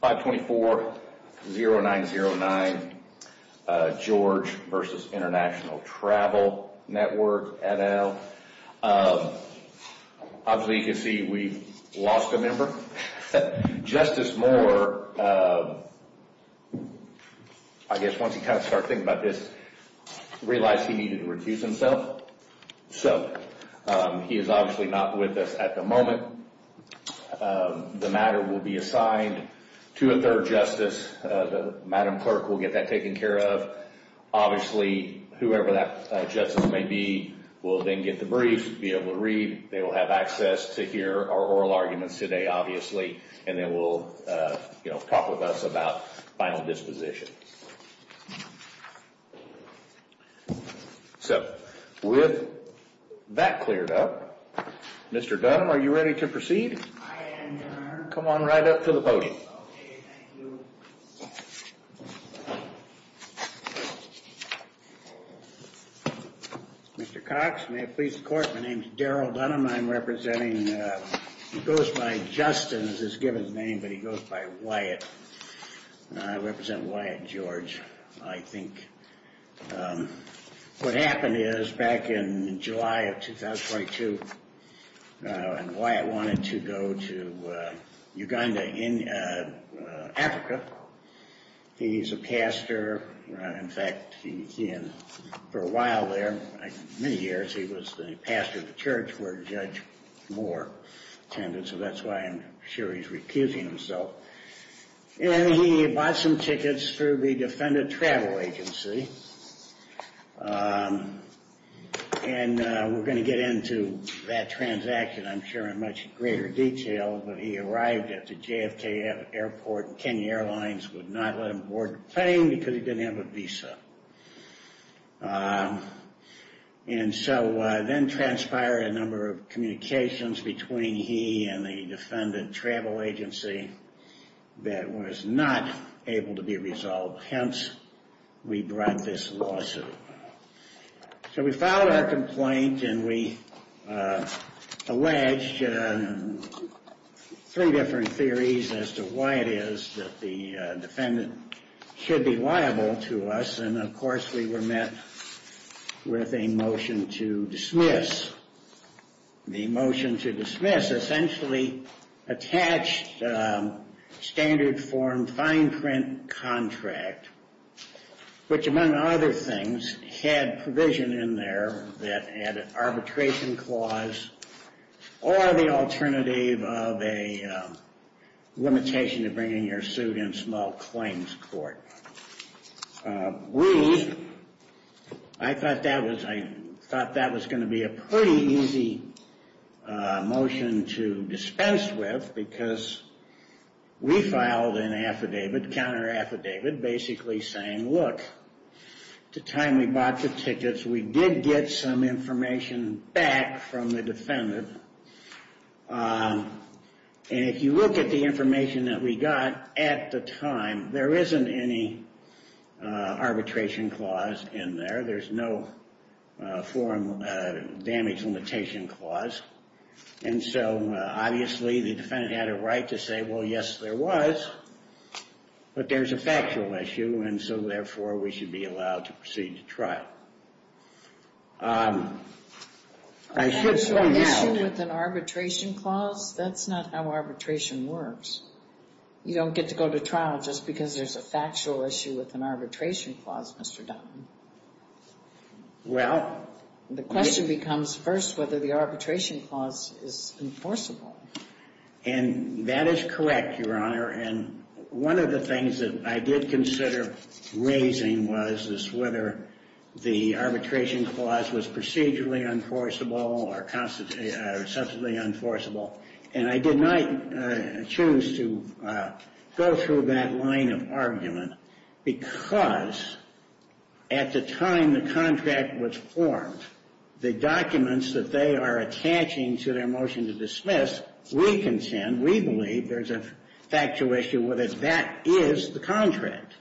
524-0909 George v. International Travel Network, et al. Obviously, you can see we've lost a member. Justice Moore, I guess once you kind of start thinking about this, realized he needed to refuse himself. So he is obviously not with us at the moment. The matter will be assigned to a third justice. Madam Clerk will get that taken care of. Obviously, whoever that justice may be will then get the brief, be able to read. They will have access to hear our oral arguments today, obviously. And then we'll, you know, talk with us about final dispositions. So with that cleared up, Mr. Dunham, are you ready to proceed? I am, Your Honor. Come on right up to the podium. Okay, thank you. Mr. Cox, may it please the Court, my name is Daryl Dunham. I'm representing, he goes by Justin as his given name, but he goes by Wyatt. I represent Wyatt George. I think what happened is back in July of 2022, Wyatt wanted to go to Uganda in Africa. He's a pastor. In fact, for a while there, many years, he was the pastor of the church where Judge Moore attended. So that's why I'm sure he's recusing himself. And he bought some tickets through the Defendant Travel Agency. And we're going to get into that transaction, I'm sure, in much greater detail. But he arrived at the JFK Airport. Kenya Airlines would not let him board the plane because he didn't have a visa. And so then transpired a number of communications between he and the Defendant Travel Agency that was not able to be resolved. Hence, we brought this lawsuit. So we filed our complaint and we alleged three different theories as to why it is that the we were met with a motion to dismiss. The motion to dismiss essentially attached standard form fine print contract, which, among other things, had provision in there that had an arbitration clause or the alternative of a limitation to bringing your suit in small claims court. And we, I thought that was going to be a pretty easy motion to dispense with, because we filed an affidavit, counter affidavit, basically saying, look, the time we bought the tickets, we did get some information back from the defendant. And if you look at the information that we got at the time, there isn't any arbitration clause in there. There's no form of damage limitation clause. And so obviously, the defendant had a right to say, well, yes, there was. But there's a factual issue. And so therefore, we should be allowed to proceed to trial. I should point out. Is there an issue with an arbitration clause? That's not how arbitration works. You don't get to go to trial just because there's a factual issue with an arbitration clause, Mr. Dunn. Well. The question becomes first whether the arbitration clause is enforceable. And that is correct, Your Honor. And one of the things that I did consider raising was whether the arbitration clause was procedurally enforceable or substantively enforceable. And I did not choose to go through that line of argument, because at the time the contract was formed, the documents that they are attaching to their motion to dismiss, we consent, we believe there's a factual issue with it. That is the contract.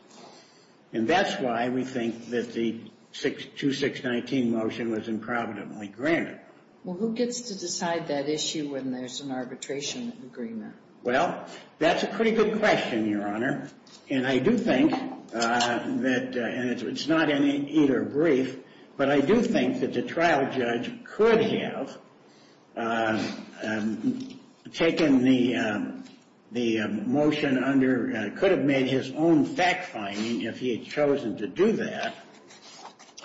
And that's why we think that the 2619 motion was improvidently granted. Well, who gets to decide that issue when there's an arbitration agreement? Well, that's a pretty good question, Your Honor. And I do think that, and it's not any either brief, but I do think that the trial judge could have taken the motion under, could have made his own fact finding if he had chosen to do that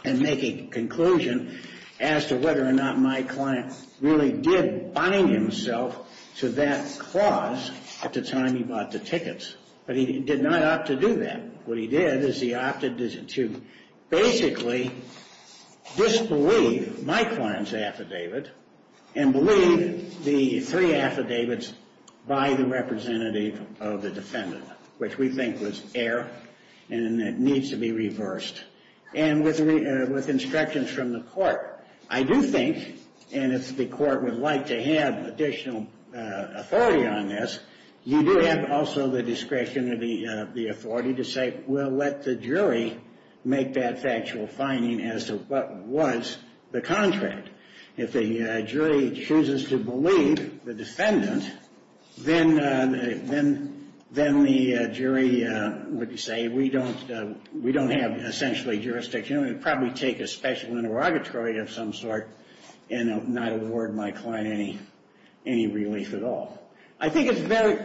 and make a conclusion as to whether or not my client really did bind himself to that clause at the time he bought the tickets. But he did not opt to do that. What he did is he opted to basically disbelieve my client's affidavit and believe the three affidavits by the representative of the defendant, which we think was error and it needs to be reversed. And with instructions from the court, I do think, and if the court would like to have additional authority on this, you do have also the discretion of the authority to say, well, let the jury make that factual finding as to what was the contract. If the jury chooses to believe the defendant, then the jury would say, we don't have essentially jurisdiction. We would probably take a special interrogatory of some sort and not award my client any relief at all. I think it's very...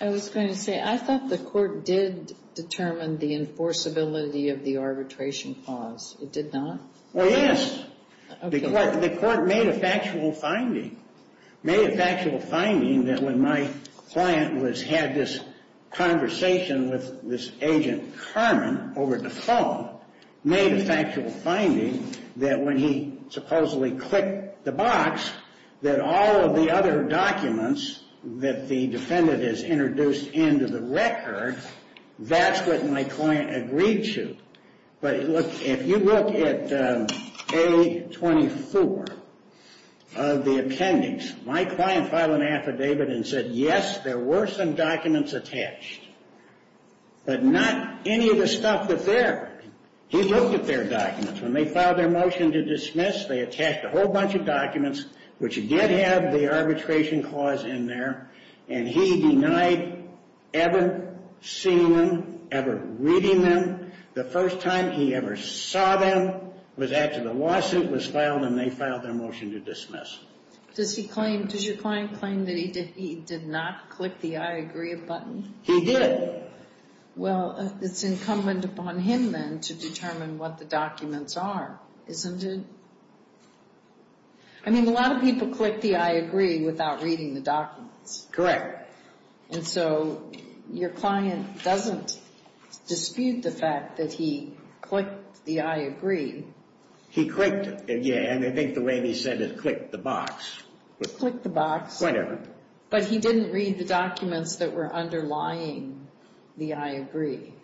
I was going to say, I thought the court did determine the enforceability of the arbitration clause. It did not? Well, yes. The court made a factual finding. Made a factual finding that when my client had this conversation with this agent Carmen over the phone, made a factual finding that when he supposedly clicked the box, that all of the other documents that the defendant has introduced into the record, that's what my client agreed to. But if you look at A24 of the appendix, my client filed an affidavit and said, yes, there were some documents attached, but not any of the stuff that's there. He looked at their documents. When they filed their motion to dismiss, they attached a whole bunch of documents, which again have the arbitration clause in there, and he denied ever seeing them, ever reading them. The first time he ever saw them was after the lawsuit was filed and they filed their motion to dismiss. Does he claim... Does your client claim that he did not click the I agree button? He did. Well, it's incumbent upon him then to determine what the documents are, isn't it? I mean, a lot of people click the I agree without reading the documents. And so your client doesn't dispute the fact that he clicked the I agree. He clicked it, yeah, and I think the way he said it, click the box. Click the box. Whatever. But he didn't read the documents that were underlying the I agree.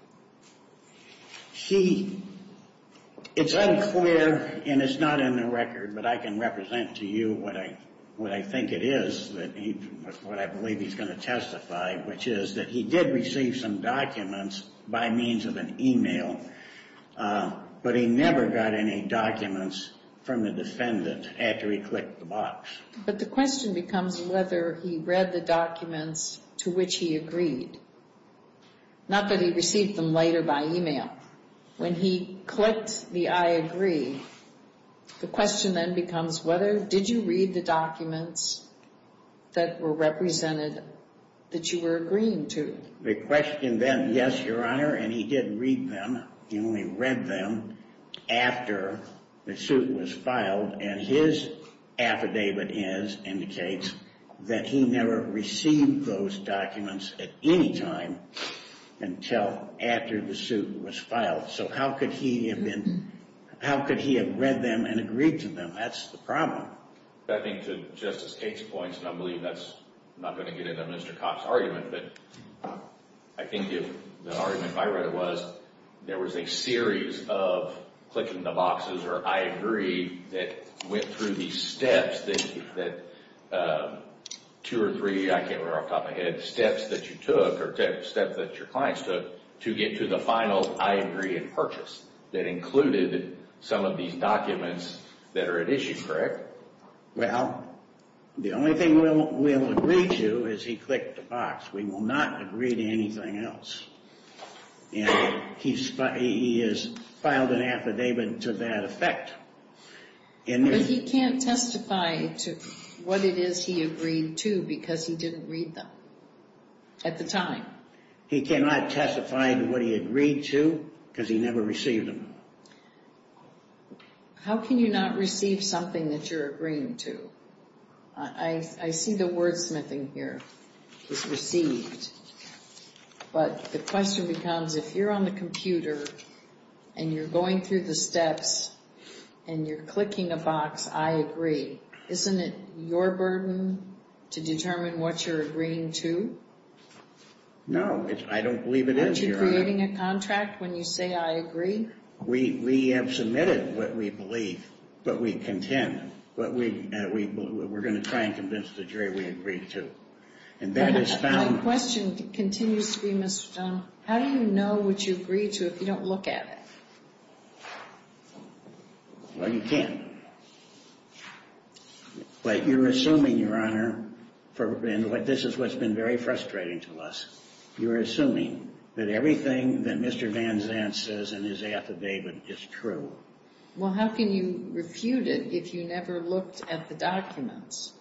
He... It's unclear, and it's not in the record, but I can represent to you what I think it is, what I believe he's going to testify, which is that he did receive some documents by means of an email, but he never got any documents from the defendant after he clicked the box. But the question becomes whether he read the documents to which he agreed. Not that he received them later by email. When he clicked the I agree, the question then becomes whether, did you read the documents that were represented that you were agreeing to? The question then, yes, Your Honor, and he did read them. He only read them after the suit was filed, and his affidavit is, indicates, that he never received those documents at any time until after the suit was filed. So how could he have been... How could he have read them and agreed to them? That's the problem. I think to Justice Tate's points, and I believe that's not going to get into Mr. Kopp's argument, but I think if the argument if I read it was, there was a series of clicking the boxes or I agree that went through these steps that two or three, I can't remember off the top of my head, steps that you took or steps that your clients took to get to the final I agree and purchase that included some of these documents that are at issue, correct? Well, the only thing we'll agree to is he clicked the box. We will not agree to anything else. And he has filed an affidavit to that effect. But he can't testify to what it is he agreed to because he didn't read them at the time. He cannot testify to what he agreed to because he never received them. How can you not receive something that you're agreeing to? I see the wordsmithing here is received, but the question becomes if you're on the computer and you're going through the steps and you're clicking a box, I agree. Isn't it your burden to determine what you're agreeing to? No, I don't believe it is, Your Honor. Aren't you creating a contract when you say I agree? We have submitted what we believe, but we contend, but we're going to try and convince the jury we agree to. And that is found. My question continues to be, Mr. Dunn, how do you know what you agree to if you don't look at it? Well, you can't. But you're assuming, Your Honor, and this is what's been very frustrating to us, you're assuming that everything that Mr. Van Zandt says in his affidavit is true. Well, how can you refute it if you never looked at the documents?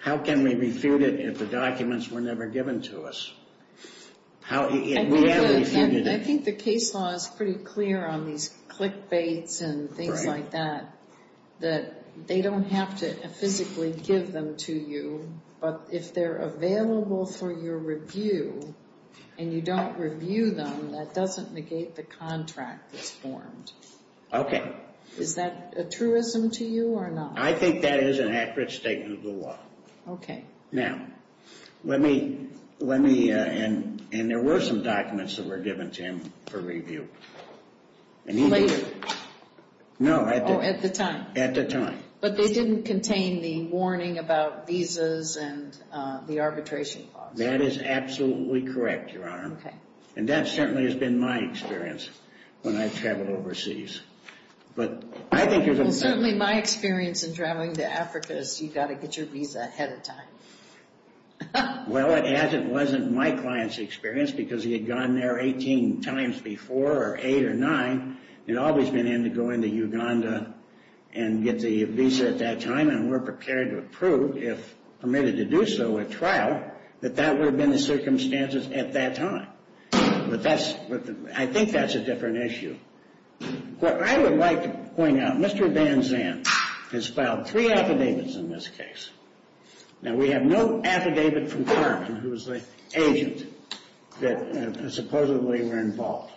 How can we refute it if the documents were never given to us? How can we refute it? I think the case law is pretty clear on these clickbaits and things like that, that they don't have to physically give them to you, but if they're available for your review and you don't review them, that doesn't negate the contract that's formed. Okay. Is that a truism to you or not? I think that is an accurate statement of the law. Okay. Now, let me, let me, and there were some documents that were given to him for review. Later? No, at the time. At the time. But they didn't contain the warning about visas and the arbitration clause. That is absolutely correct, Your Honor. Okay. And that certainly has been my experience when I've traveled overseas. But I think you're going to say... Certainly my experience in traveling to Africa is you've got to get your visa ahead of time. Well, as it wasn't my client's experience, because he had gone there 18 times before, or eight or nine. He'd always been in to go into Uganda and get the visa at that time, and we're prepared to approve, if permitted to do so at trial, that that would have been the circumstances at that time. But that's, I think that's a different issue. What I would like to point out, Mr. Van Zandt has filed three affidavits in this case. Now, we have no affidavit from Carmen, who was the agent that supposedly were involved.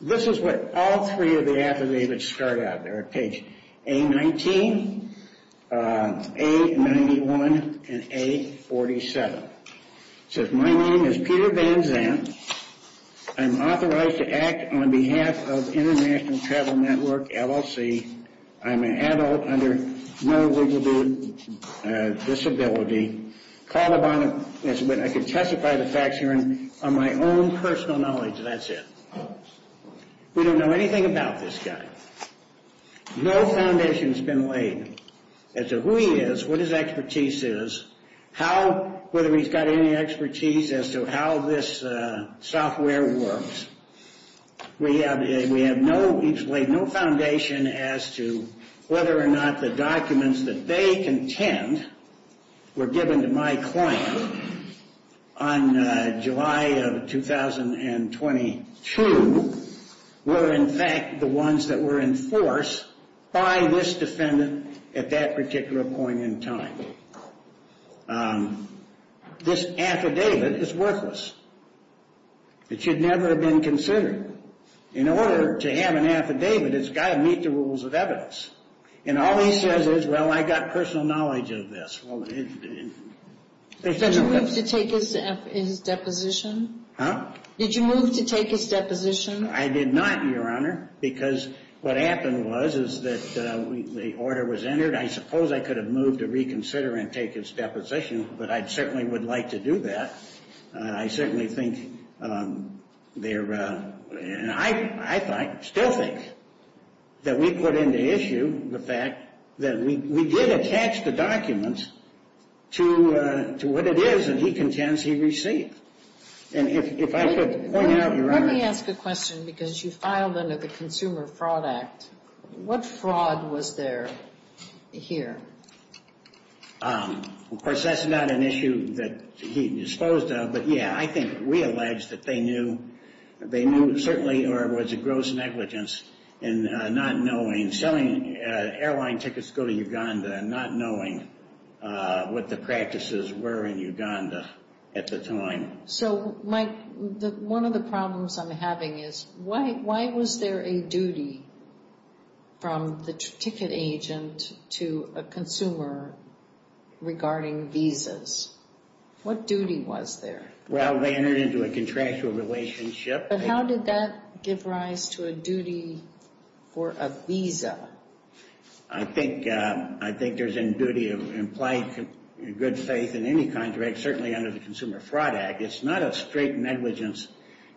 This is what all three of the affidavits start out. They're at page A19, A91, and A47. It says, my name is Peter Van Zandt. I'm authorized to act on behalf of International Travel Network, LLC. I'm an adult under no legal disability. Called upon, I can testify the facts here on my own personal knowledge, that's it. We don't know anything about this guy. No foundation's been laid as to who he is, what his expertise is, how, whether he's got any expertise as to how this software works. We have, we have no, he's laid no foundation as to whether or not the documents that they contend were given to my client on July of 2022, were in fact the ones that were enforced by this defendant at that particular point in time. This affidavit is worthless. It should never have been considered. In order to have an affidavit, it's got to meet the rules of evidence. And all he says is, well, I got personal knowledge of this. Well, there's no evidence. Did you move to take his deposition? Huh? Did you move to take his deposition? I did not, Your Honor, because what happened was, is that the order was entered. I suppose I could have moved to reconsider and take his deposition, but I certainly would like to do that. I certainly think they're, and I still think that we put into issue the fact that we did attach the documents to what it is that he contends he received. And if I could point out, Your Honor. Let me ask a question, because you filed under the Consumer Fraud Act. What fraud was there here? Of course, that's not an issue that he disposed of. But yeah, I think we allege that they knew, they knew, certainly, or it was a gross negligence in not knowing, selling airline tickets to go to Uganda and not knowing what the practices were in Uganda at the time. So, Mike, one of the problems I'm having is, why was there a duty from the ticket agent to a consumer regarding visas? What duty was there? Well, they entered into a contractual relationship. But how did that give rise to a duty for a visa? I think, I think there's a duty of implied good faith in any contract, certainly under the Consumer Fraud Act. It's not a straight negligence.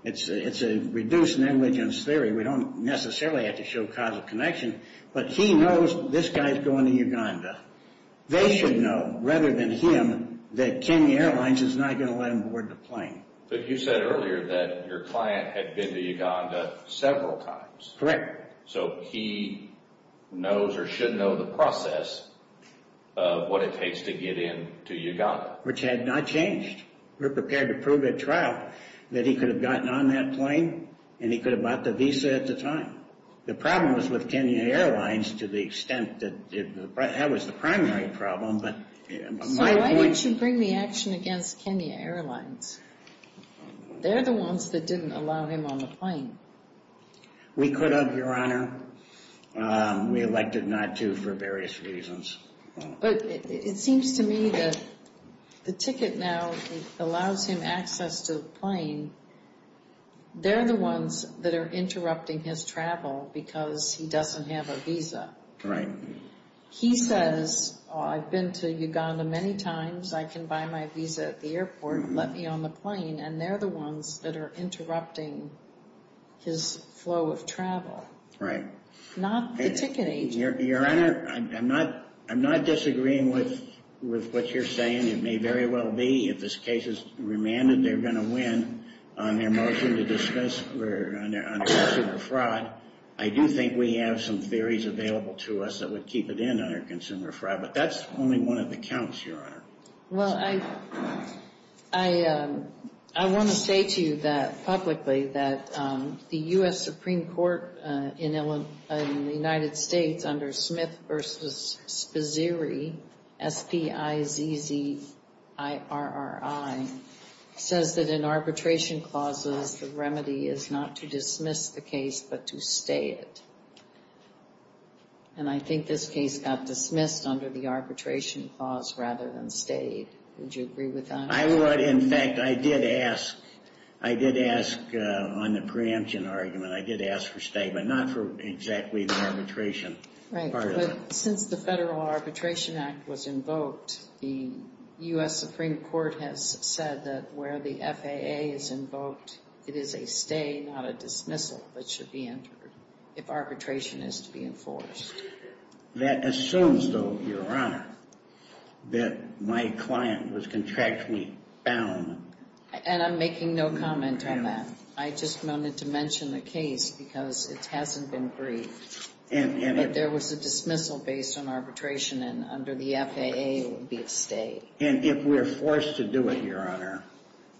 It's a reduced negligence theory. We don't necessarily have to show causal connection. But he knows this guy's going to Uganda. They should know, rather than him, that Kenya Airlines is not going to let him board the plane. But you said earlier that your client had been to Uganda several times. So he knows or should know the process of what it takes to get in to Uganda. Which had not changed. We're prepared to prove at trial that he could have gotten on that plane and he could have bought the visa at the time. The problem was with Kenya Airlines to the extent that that was the primary problem. But my point... So why didn't you bring the action against Kenya Airlines? They're the ones that didn't allow him on the plane. We could have, Your Honor. We elected not to for various reasons. But it seems to me that the ticket now allows him access to the plane. They're the ones that are interrupting his travel because he doesn't have a visa. He says, I've been to Uganda many times. I can buy my visa at the airport. Let me on the plane. And they're the ones that are interrupting his flow of travel. Right. Not the ticket agent. Your Honor, I'm not disagreeing with what you're saying. It may very well be. If this case is remanded, they're going to win. On their motion to discuss consumer fraud, I do think we have some theories available to us that would keep it in under consumer fraud. But that's only one of the counts, Your Honor. Well, I want to say to you that publicly that the U.S. Supreme Court in the United States under Smith v. Spizzeri, S-P-I-Z-Z-I-R-R-I, says that in arbitration clauses, the remedy is not to dismiss the case, but to stay it. And I think this case got dismissed under the arbitration clause rather than stayed. Would you agree with that? I would. In fact, I did ask. I did ask on the preemption argument. I did ask for stay, but not for exactly the arbitration. Since the Federal Arbitration Act was invoked, the U.S. Supreme Court has said that where the FAA is invoked, it is a stay, not a dismissal, that should be entered if arbitration is to be enforced. That assumes, though, Your Honor, that my client was contractually bound. And I'm making no comment on that. I just wanted to mention the case because it hasn't been briefed. But there was a dismissal based on arbitration, and under the FAA, it would be a stay. And if we're forced to do it, Your Honor,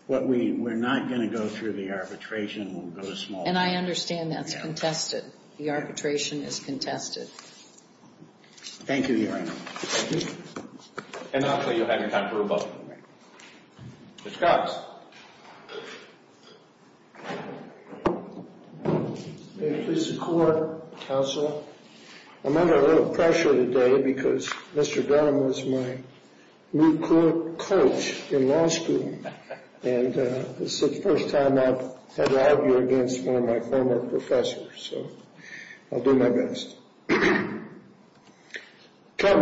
what we're not going to go through the arbitration will go to small. And I understand that's contested. The arbitration is contested. Thank you, Your Honor. And I'll tell you ahead of time for a vote. Ms. Cox. May it please the Court, Counsel. I'm under a little pressure today because Mr. Dunham was my new coach in law school. And this is the first time I've had to argue against one of my former professors. So I'll do my best. Count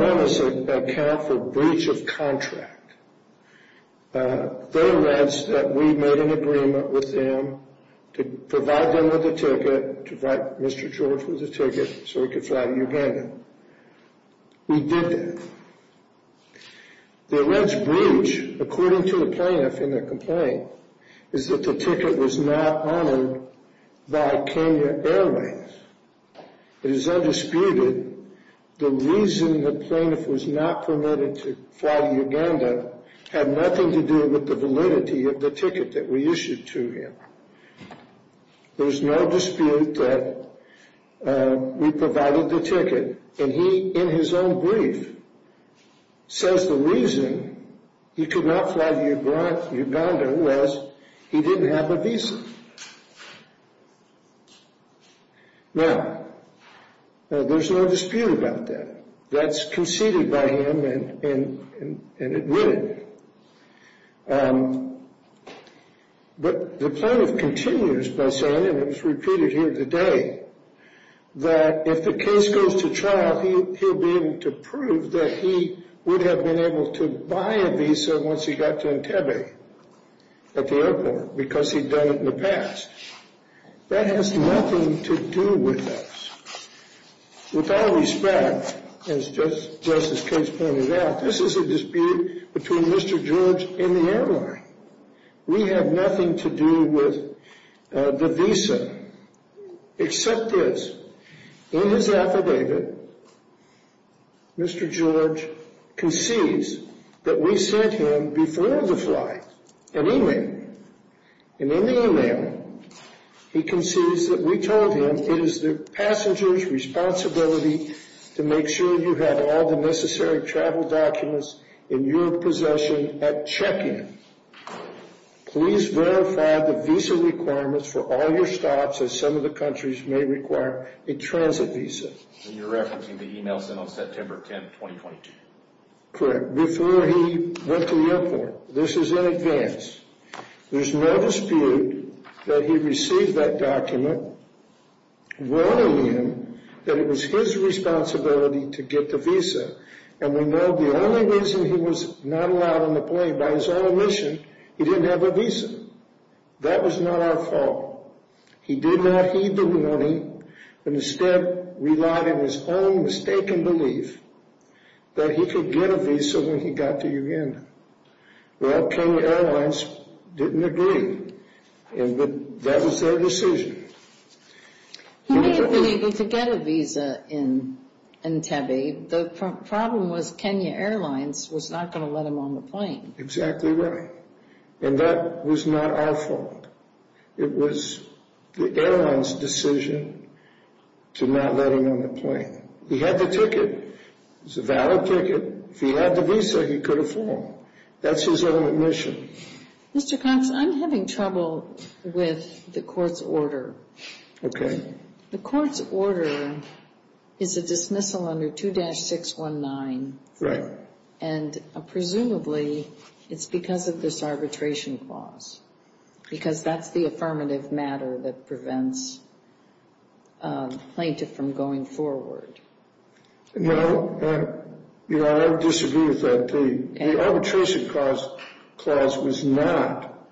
Dunham is a count for breach of contract. They announced that we made an agreement with them to provide them with a ticket, to provide Mr. George with a ticket so he could fly to Uganda. We did that. The alleged breach, according to the plaintiff in the complaint, is that the ticket was not honored by Kenya Airways. It is undisputed the reason the plaintiff was not permitted to fly to Uganda had nothing to do with the validity of the ticket that we issued to him. There's no dispute that we provided the ticket. And he, in his own brief, says the reason he could not fly to Uganda was he didn't have a visa. Now, there's no dispute about that. That's conceded by him and admitted. But the plaintiff continues by saying, and it was repeated here today, that if the case goes to trial, he'll be able to prove that he would have been able to buy a visa once he got to Entebbe at the airport because he'd done it in the past. That has nothing to do with us. With all respect, and it's just as Kate's pointed out, this is a dispute between Mr. George and the airline. We have nothing to do with the visa except this. In his affidavit, Mr. George concedes that we sent him before the flight an email. And in the email, he concedes that we told him it is the passenger's responsibility to make sure you have all the necessary travel documents in your possession at check-in. Please verify the visa requirements for all your stops, as some of the countries may require a transit visa. And you're referencing the email sent on September 10, 2022? Correct, before he went to the airport. This is in advance. There's no dispute that he received that document warning him that it was his responsibility to get the visa. And we know the only reason he was not allowed on the plane by his own admission, he didn't have a visa. That was not our fault. He did not heed the warning and instead relied on his own mistaken belief that he could get a visa when he got to Uganda. Well, Kenya Airlines didn't agree and that was their decision. He may have been able to get a visa in Entebbe. The problem was Kenya Airlines was not going to let him on the plane. Exactly right. And that was not our fault. It was the airline's decision to not let him on the plane. He had the ticket. It was a valid ticket. If he had the visa, he could have flown. That's his own admission. Mr. Cox, I'm having trouble with the court's order. The court's order is a dismissal under 2-619. And presumably it's because of this arbitration clause, because that's the affirmative matter that prevents the plaintiff from going forward. No, I disagree with that. The arbitration clause was not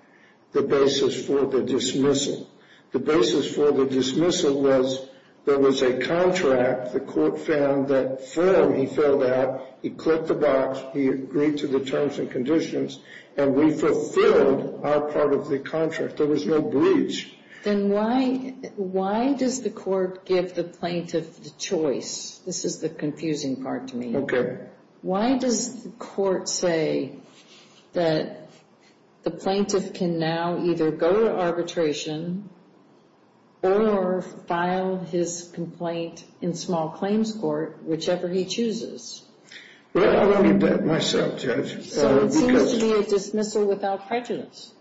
the basis for the dismissal. The basis for the dismissal was there was a contract. The court found that form he filled out. He clicked the box. He agreed to the terms and conditions. And we fulfilled our part of the contract. There was no breach. Then why does the court give the plaintiff the choice? This is the confusing part to me. Why does the court say that the plaintiff can now either go to arbitration or file his complaint in small claims court, whichever he chooses? Well, let me bet myself, Judge. So it seems to be a dismissal without prejudice.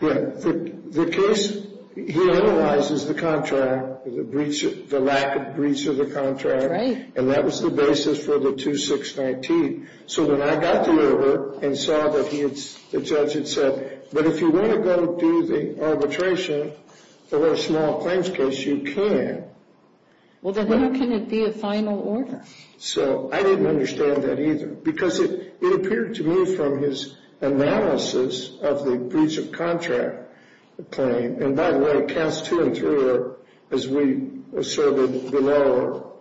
Yeah, the case, he analyzes the contract, the lack of breach of the contract. And that was the basis for the 2-619. So when I got to it and saw that the judge had said, but if you want to go do the arbitration for a small claims case, you can. Well, then how can it be a final order? So I didn't understand that either. Because it appeared to me from his analysis of the breach of contract claim. And by the way, counts two and three, as we asserted below,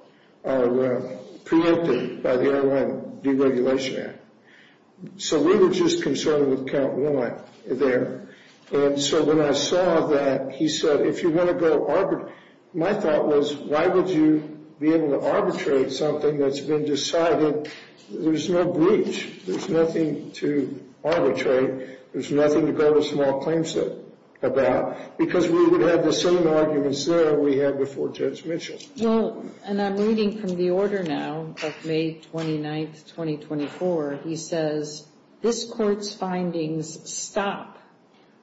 are preempted by the Airline Deregulation Act. So we were just concerned with count one there. And so when I saw that, he said, if you want to go arbitrate, my thought was, why would you be able to arbitrate something that's been decided? There's no breach. There's nothing to arbitrate. There's nothing to go to small claims about. Because we would have the same arguments there we had before Judge Mitchell. Well, and I'm reading from the order now of May 29th, 2024. He says, this court's findings stop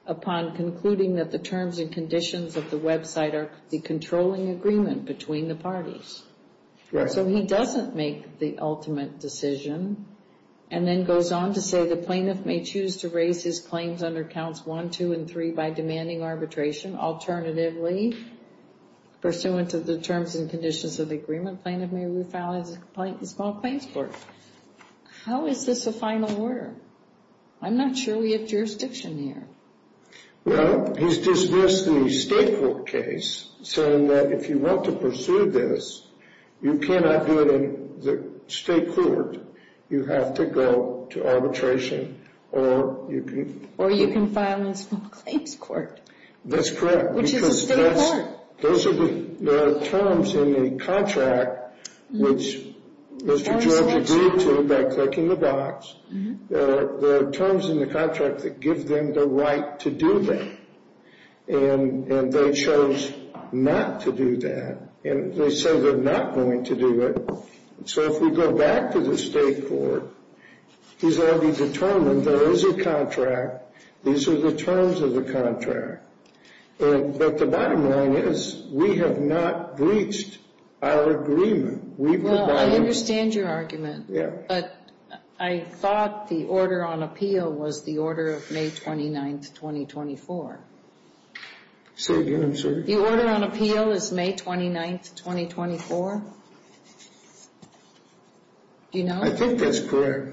upon concluding that the terms and conditions of the website are the controlling agreement between the parties. So he doesn't make the ultimate decision. And then goes on to say, the plaintiff may choose to raise his claims under counts one, two, and three by demanding arbitration. Alternatively, pursuant to the terms and conditions of the agreement, plaintiff may refile his small claims court. How is this a final order? I'm not sure we have jurisdiction here. Well, he's dismissed the state court case saying that if you want to pursue this, you cannot do it in the state court. You have to go to arbitration or you can- Or you can file a small claims court. That's correct. Which is a state court. Those are the terms in the contract, which Mr. George agreed to by clicking the box. The terms in the contract that give them the right to do that. And they chose not to do that. And they say they're not going to do it. So if we go back to the state court, he's already determined there is a contract. These are the terms of the contract. But the bottom line is, we have not breached our agreement. We've- Well, I understand your argument. Yeah. But I thought the order on appeal was the order of May 29th, 2024. Say again, sir? The order on appeal is May 29th, 2024. Do you know? I think that's correct.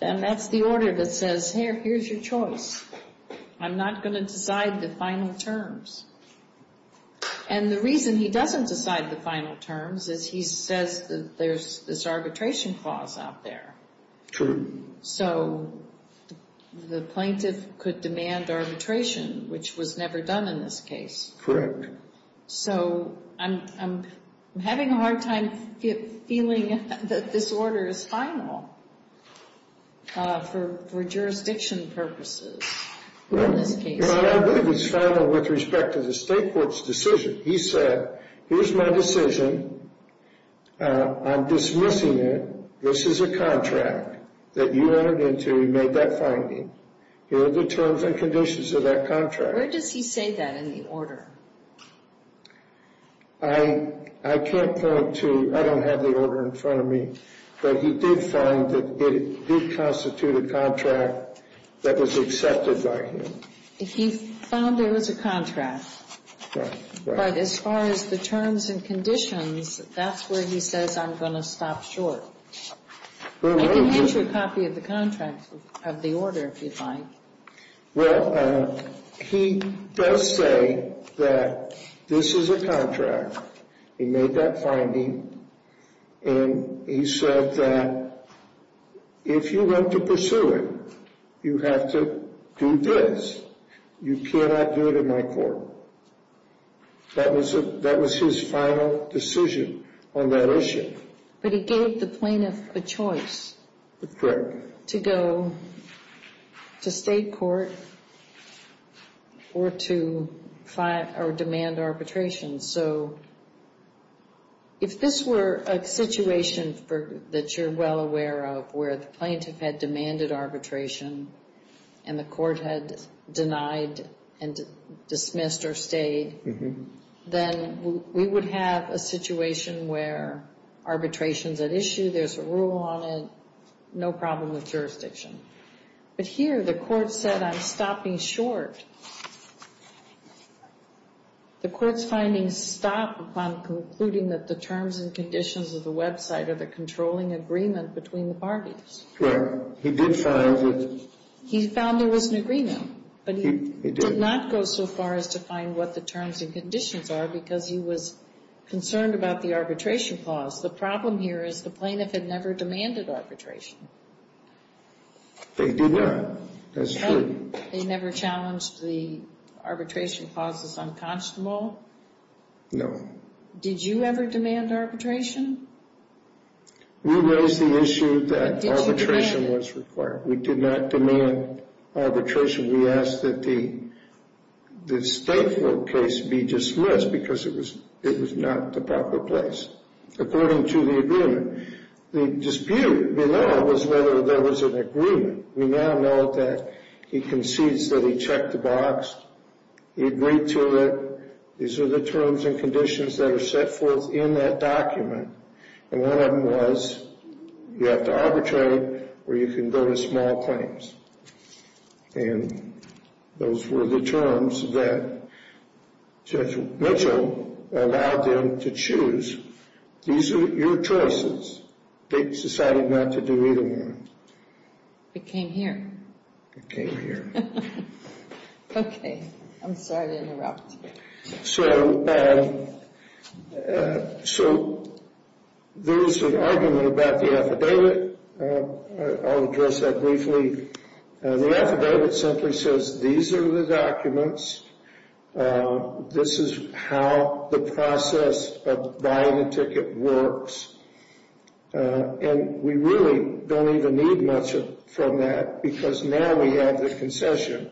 And that's the order that says, here, here's your choice. I'm not going to decide the final terms. And the reason he doesn't decide the final terms is he says that there's this arbitration clause out there. True. So the plaintiff could demand arbitration, which was never done in this case. So I'm having a hard time feeling that this order is final for jurisdiction purposes in this case. Well, I don't think it's final with respect to the state court's decision. He said, here's my decision. I'm dismissing it. This is a contract that you entered into. You made that finding. Here are the terms and conditions of that contract. Where does he say that in the order? I can't point to- I don't have the order in front of me. But he did find that it did constitute a contract that was accepted by him. He found there was a contract. But as far as the terms and conditions, that's where he says, I'm going to stop short. I can hand you a copy of the contract of the order if you'd like. Well, he does say that this is a contract. He made that finding. And he said that if you want to pursue it, you have to do this. You cannot do it in my court. That was his final decision on that issue. But he gave the plaintiff a choice. That's correct. To go to state court or to demand arbitration. So if this were a situation that you're well aware of, where the plaintiff had demanded arbitration and the court had denied and dismissed or stayed, then we would have a situation where arbitration's at issue. There's a rule on it. No problem with jurisdiction. But here, the court said, I'm stopping short. The court's finding stopped upon concluding that the terms and conditions of the website are the controlling agreement between the parties. Well, he did find that- He found there was an agreement. But he did not go so far as to find what the terms and conditions are because he was concerned about the arbitration clause. The problem here is the plaintiff had never demanded arbitration. They did not. They never challenged the arbitration clauses unconscionable? No. Did you ever demand arbitration? We raised the issue that arbitration was required. We did not demand arbitration. We asked that the stateful case be dismissed because it was not the proper place. According to the agreement, the dispute below was whether there was an agreement. We now know that he concedes that he checked the box. He agreed to it. These are the terms and conditions that are set forth in that document. And one of them was, you have to arbitrate or you can go to small claims. And those were the terms that Judge Mitchell allowed them to choose. These are your choices. They decided not to do either one. It came here. It came here. Okay. I'm sorry to interrupt. So, so there is an argument about the affidavit. I'll address that briefly. The affidavit simply says, these are the documents. This is how the process of buying a ticket works. And we really don't even need much from that because now we have the concession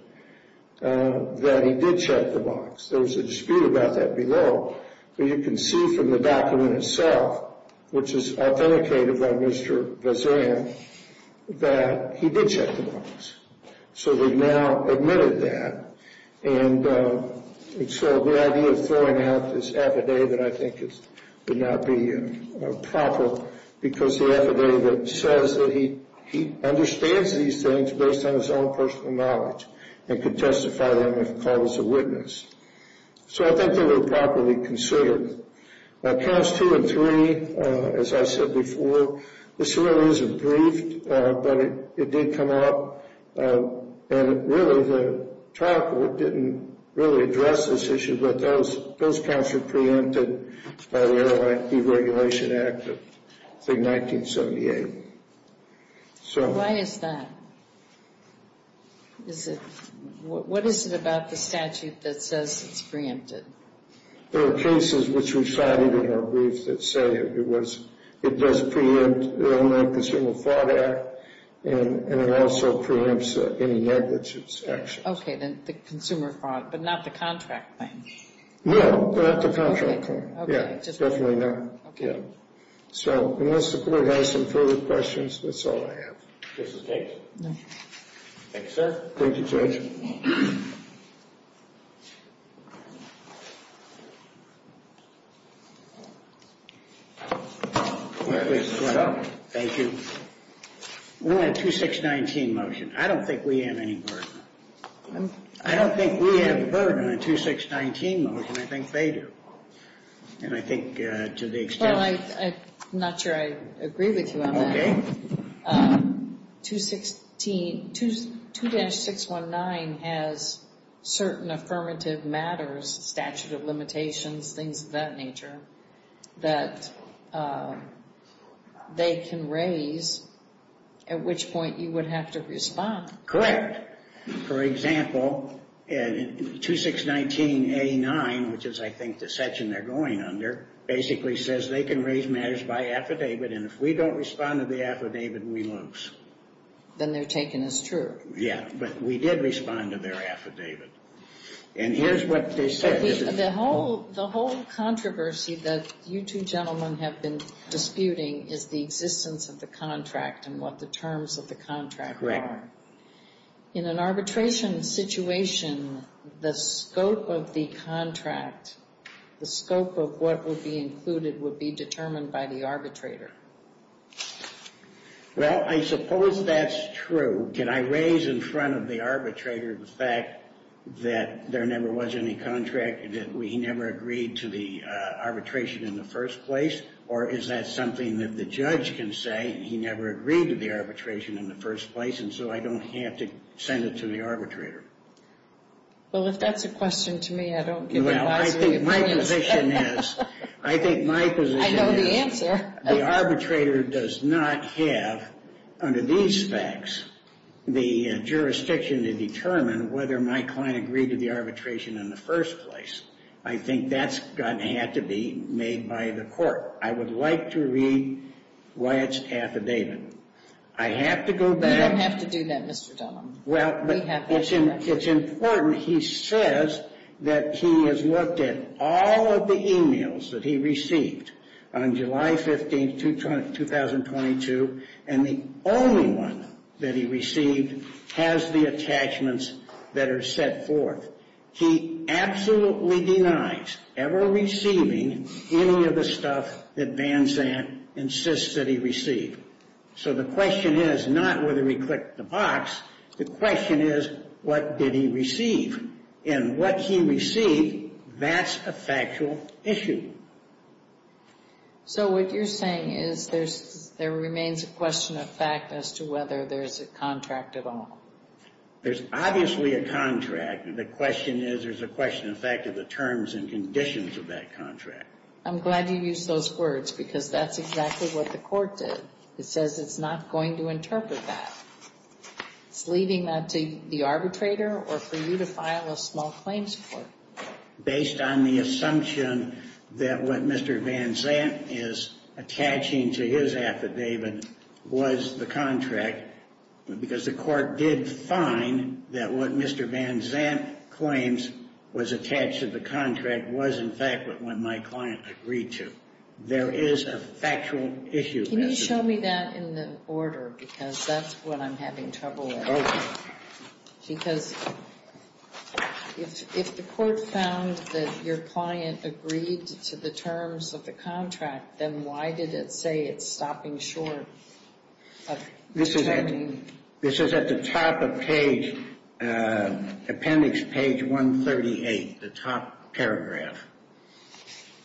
that he did check the box. There was a dispute about that below, but you can see from the document itself, which is authenticated by Mr. Bazan, that he did check the box. So we've now admitted that. And so the idea of throwing out this affidavit, I think, would not be proper because the affidavit says that he understands these things based on his own personal knowledge and could testify them if called as a witness. So I think they were properly considered. Counts two and three, as I said before, this really isn't briefed, but it did come out. And really, the trial court didn't really address this issue, but those counts were preempted by the Airline Deregulation Act of, I think, 1978. So. Why is that? Is it, what is it about the statute that says it's preempted? There are cases which we cited in our brief that say it was, it does preempt the Airline Consumer Fraud Act, and it also preempts any negligence actions. Okay, then the consumer fraud, but not the contract claim. No, not the contract claim. Yeah, definitely not. So unless the court has some further questions, that's all I have. Justice Bates. Thank you, sir. Thank you, Judge. Thank you. We want a 2619 motion. I don't think we have any burden. I don't think we have a burden on a 2619 motion. I think they do. And I think to the extent. Well, I'm not sure I agree with you on that. 2619 has certain affirmative matters, statute of limitations, things of that nature, that they can raise, at which point you would have to respond. For example, 2619A9, which is, I think, the section they're going under, basically says they can raise matters by affidavit, and if we don't respond to the affidavit, we lose. Then they're taken as true. Yeah, but we did respond to their affidavit. And here's what they said. The whole controversy that you two gentlemen have been disputing is the existence of the contract and what the terms of the contract are. In an arbitration situation, the scope of the contract, the scope of what would be included would be determined by the arbitrator. Well, I suppose that's true. Can I raise in front of the arbitrator the fact that there never was any contract, and that we never agreed to the arbitration in the first place? Or is that something that the judge can say, he never agreed to the arbitration in the first place, and so I don't have to send it to the arbitrator? Well, if that's a question to me, I don't get the last three points. Well, I think my position is. I think my position is. I know the answer. The arbitrator does not have, under these facts, the jurisdiction to determine whether my client agreed to the arbitration in the first place. I think that's going to have to be made by the court. I would like to read Wyatt's affidavit. I have to go back. You don't have to do that, Mr. Dunham. Well, but it's important. He says that he has looked at all of the emails that he received on July 15, 2022, and the only one that he received has the attachments that are set forth. He absolutely denies ever receiving any of the stuff that Van Zandt insists that he received. So the question is not whether he clicked the box. The question is, what did he receive? And what he received, that's a factual issue. So what you're saying is there remains a question of fact as to whether there's a contract at all? There's obviously a contract. The question is, there's a question of fact of the terms and conditions of that contract. I'm glad you used those words because that's exactly what the court did. It says it's not going to interpret that. It's leaving that to the arbitrator or for you to file a small claims court. Based on the assumption that what Mr. Van Zandt is attaching to his affidavit was the contract, because the court did find that what Mr. Van Zandt claims was attached to the contract was in fact what my client agreed to. There is a factual issue. Can you show me that in the order? Because that's what I'm having trouble with. Because if the court found that your client agreed to the terms of the contract, then why did it say it's stopping short of terming? This is at the top of page, appendix page 138, the top paragraph.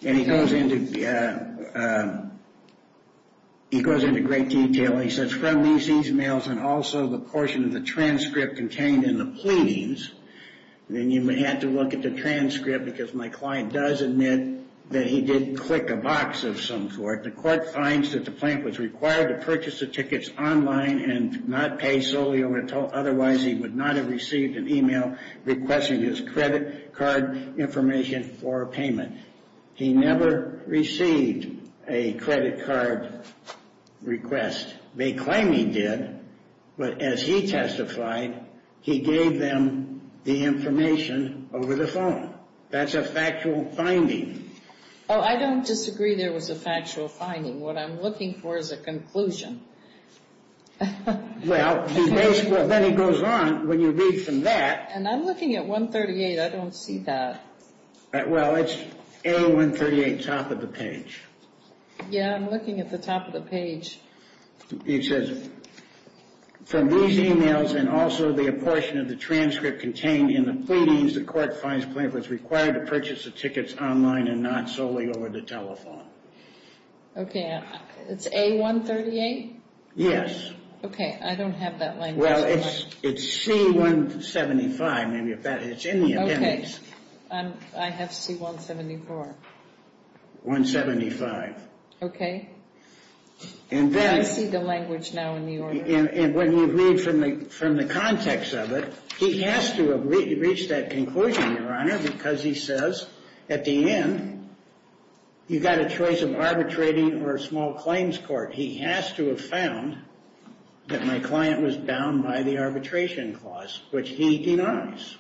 And he goes into great detail. He says, from these emails and also the portion of the transcript contained in the pleadings, then you may have to look at the transcript because my client does admit that he did click a box of some sort. The court finds that the plaintiff was required to purchase the tickets online and not pay solely or otherwise he would not have received an email requesting his credit card information for payment. He never received a credit card request. They claim he did, but as he testified, he gave them the information over the phone. That's a factual finding. Oh, I don't disagree there was a factual finding. What I'm looking for is a conclusion. Well, then he goes on when you read from that. And I'm looking at 138. I don't see that. Well, it's A138, top of the page. Yeah, I'm looking at the top of the page. He says, from these emails and also the portion of the transcript contained in the pleadings, the court finds the plaintiff was required to purchase the tickets online and not solely over the telephone. Okay, it's A138? Yes. Okay, I don't have that language. It's C175. I have C174. Okay, I see the language now in the order. And when you read from the context of it, he has to have reached that conclusion, Your Honor, because he says at the end, you've got a choice of arbitrating or a small claims court. He has to have found that my client was bound by the arbitration clause, which he denies.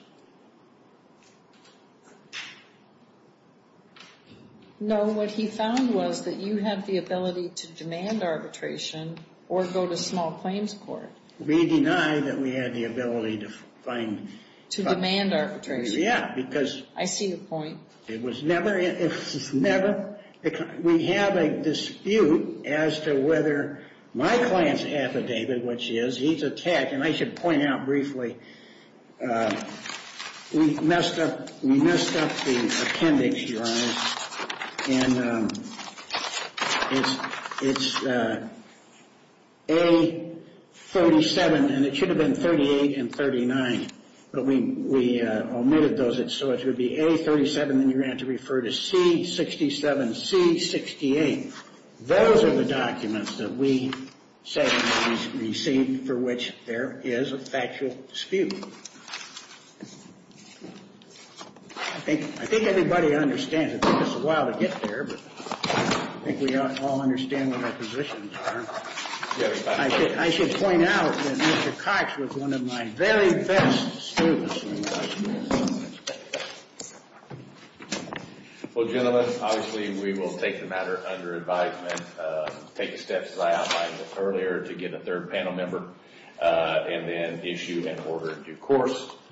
No, what he found was that you have the ability to demand arbitration or go to small claims court. We deny that we had the ability to find... To demand arbitration. Yeah, because... I see the point. It was never... We have a dispute as to whether my client's affidavit, which is he's a tech, and I should point out briefly, we messed up the appendix, Your Honor, and it's A37, and it should have been 38 and 39, but we omitted those. So it would be A37, and you're going to refer to C67, C68. Those are the documents that we say we received for which there is a factual dispute. I think everybody understands. It took us a while to get there, but I think we all understand what our positions are. I should point out that Mr. Cox was one of my very best students. Well, gentlemen, obviously we will take the matter under advisement, take the steps as I outlined earlier to get a third panel member, and then issue an order in due course.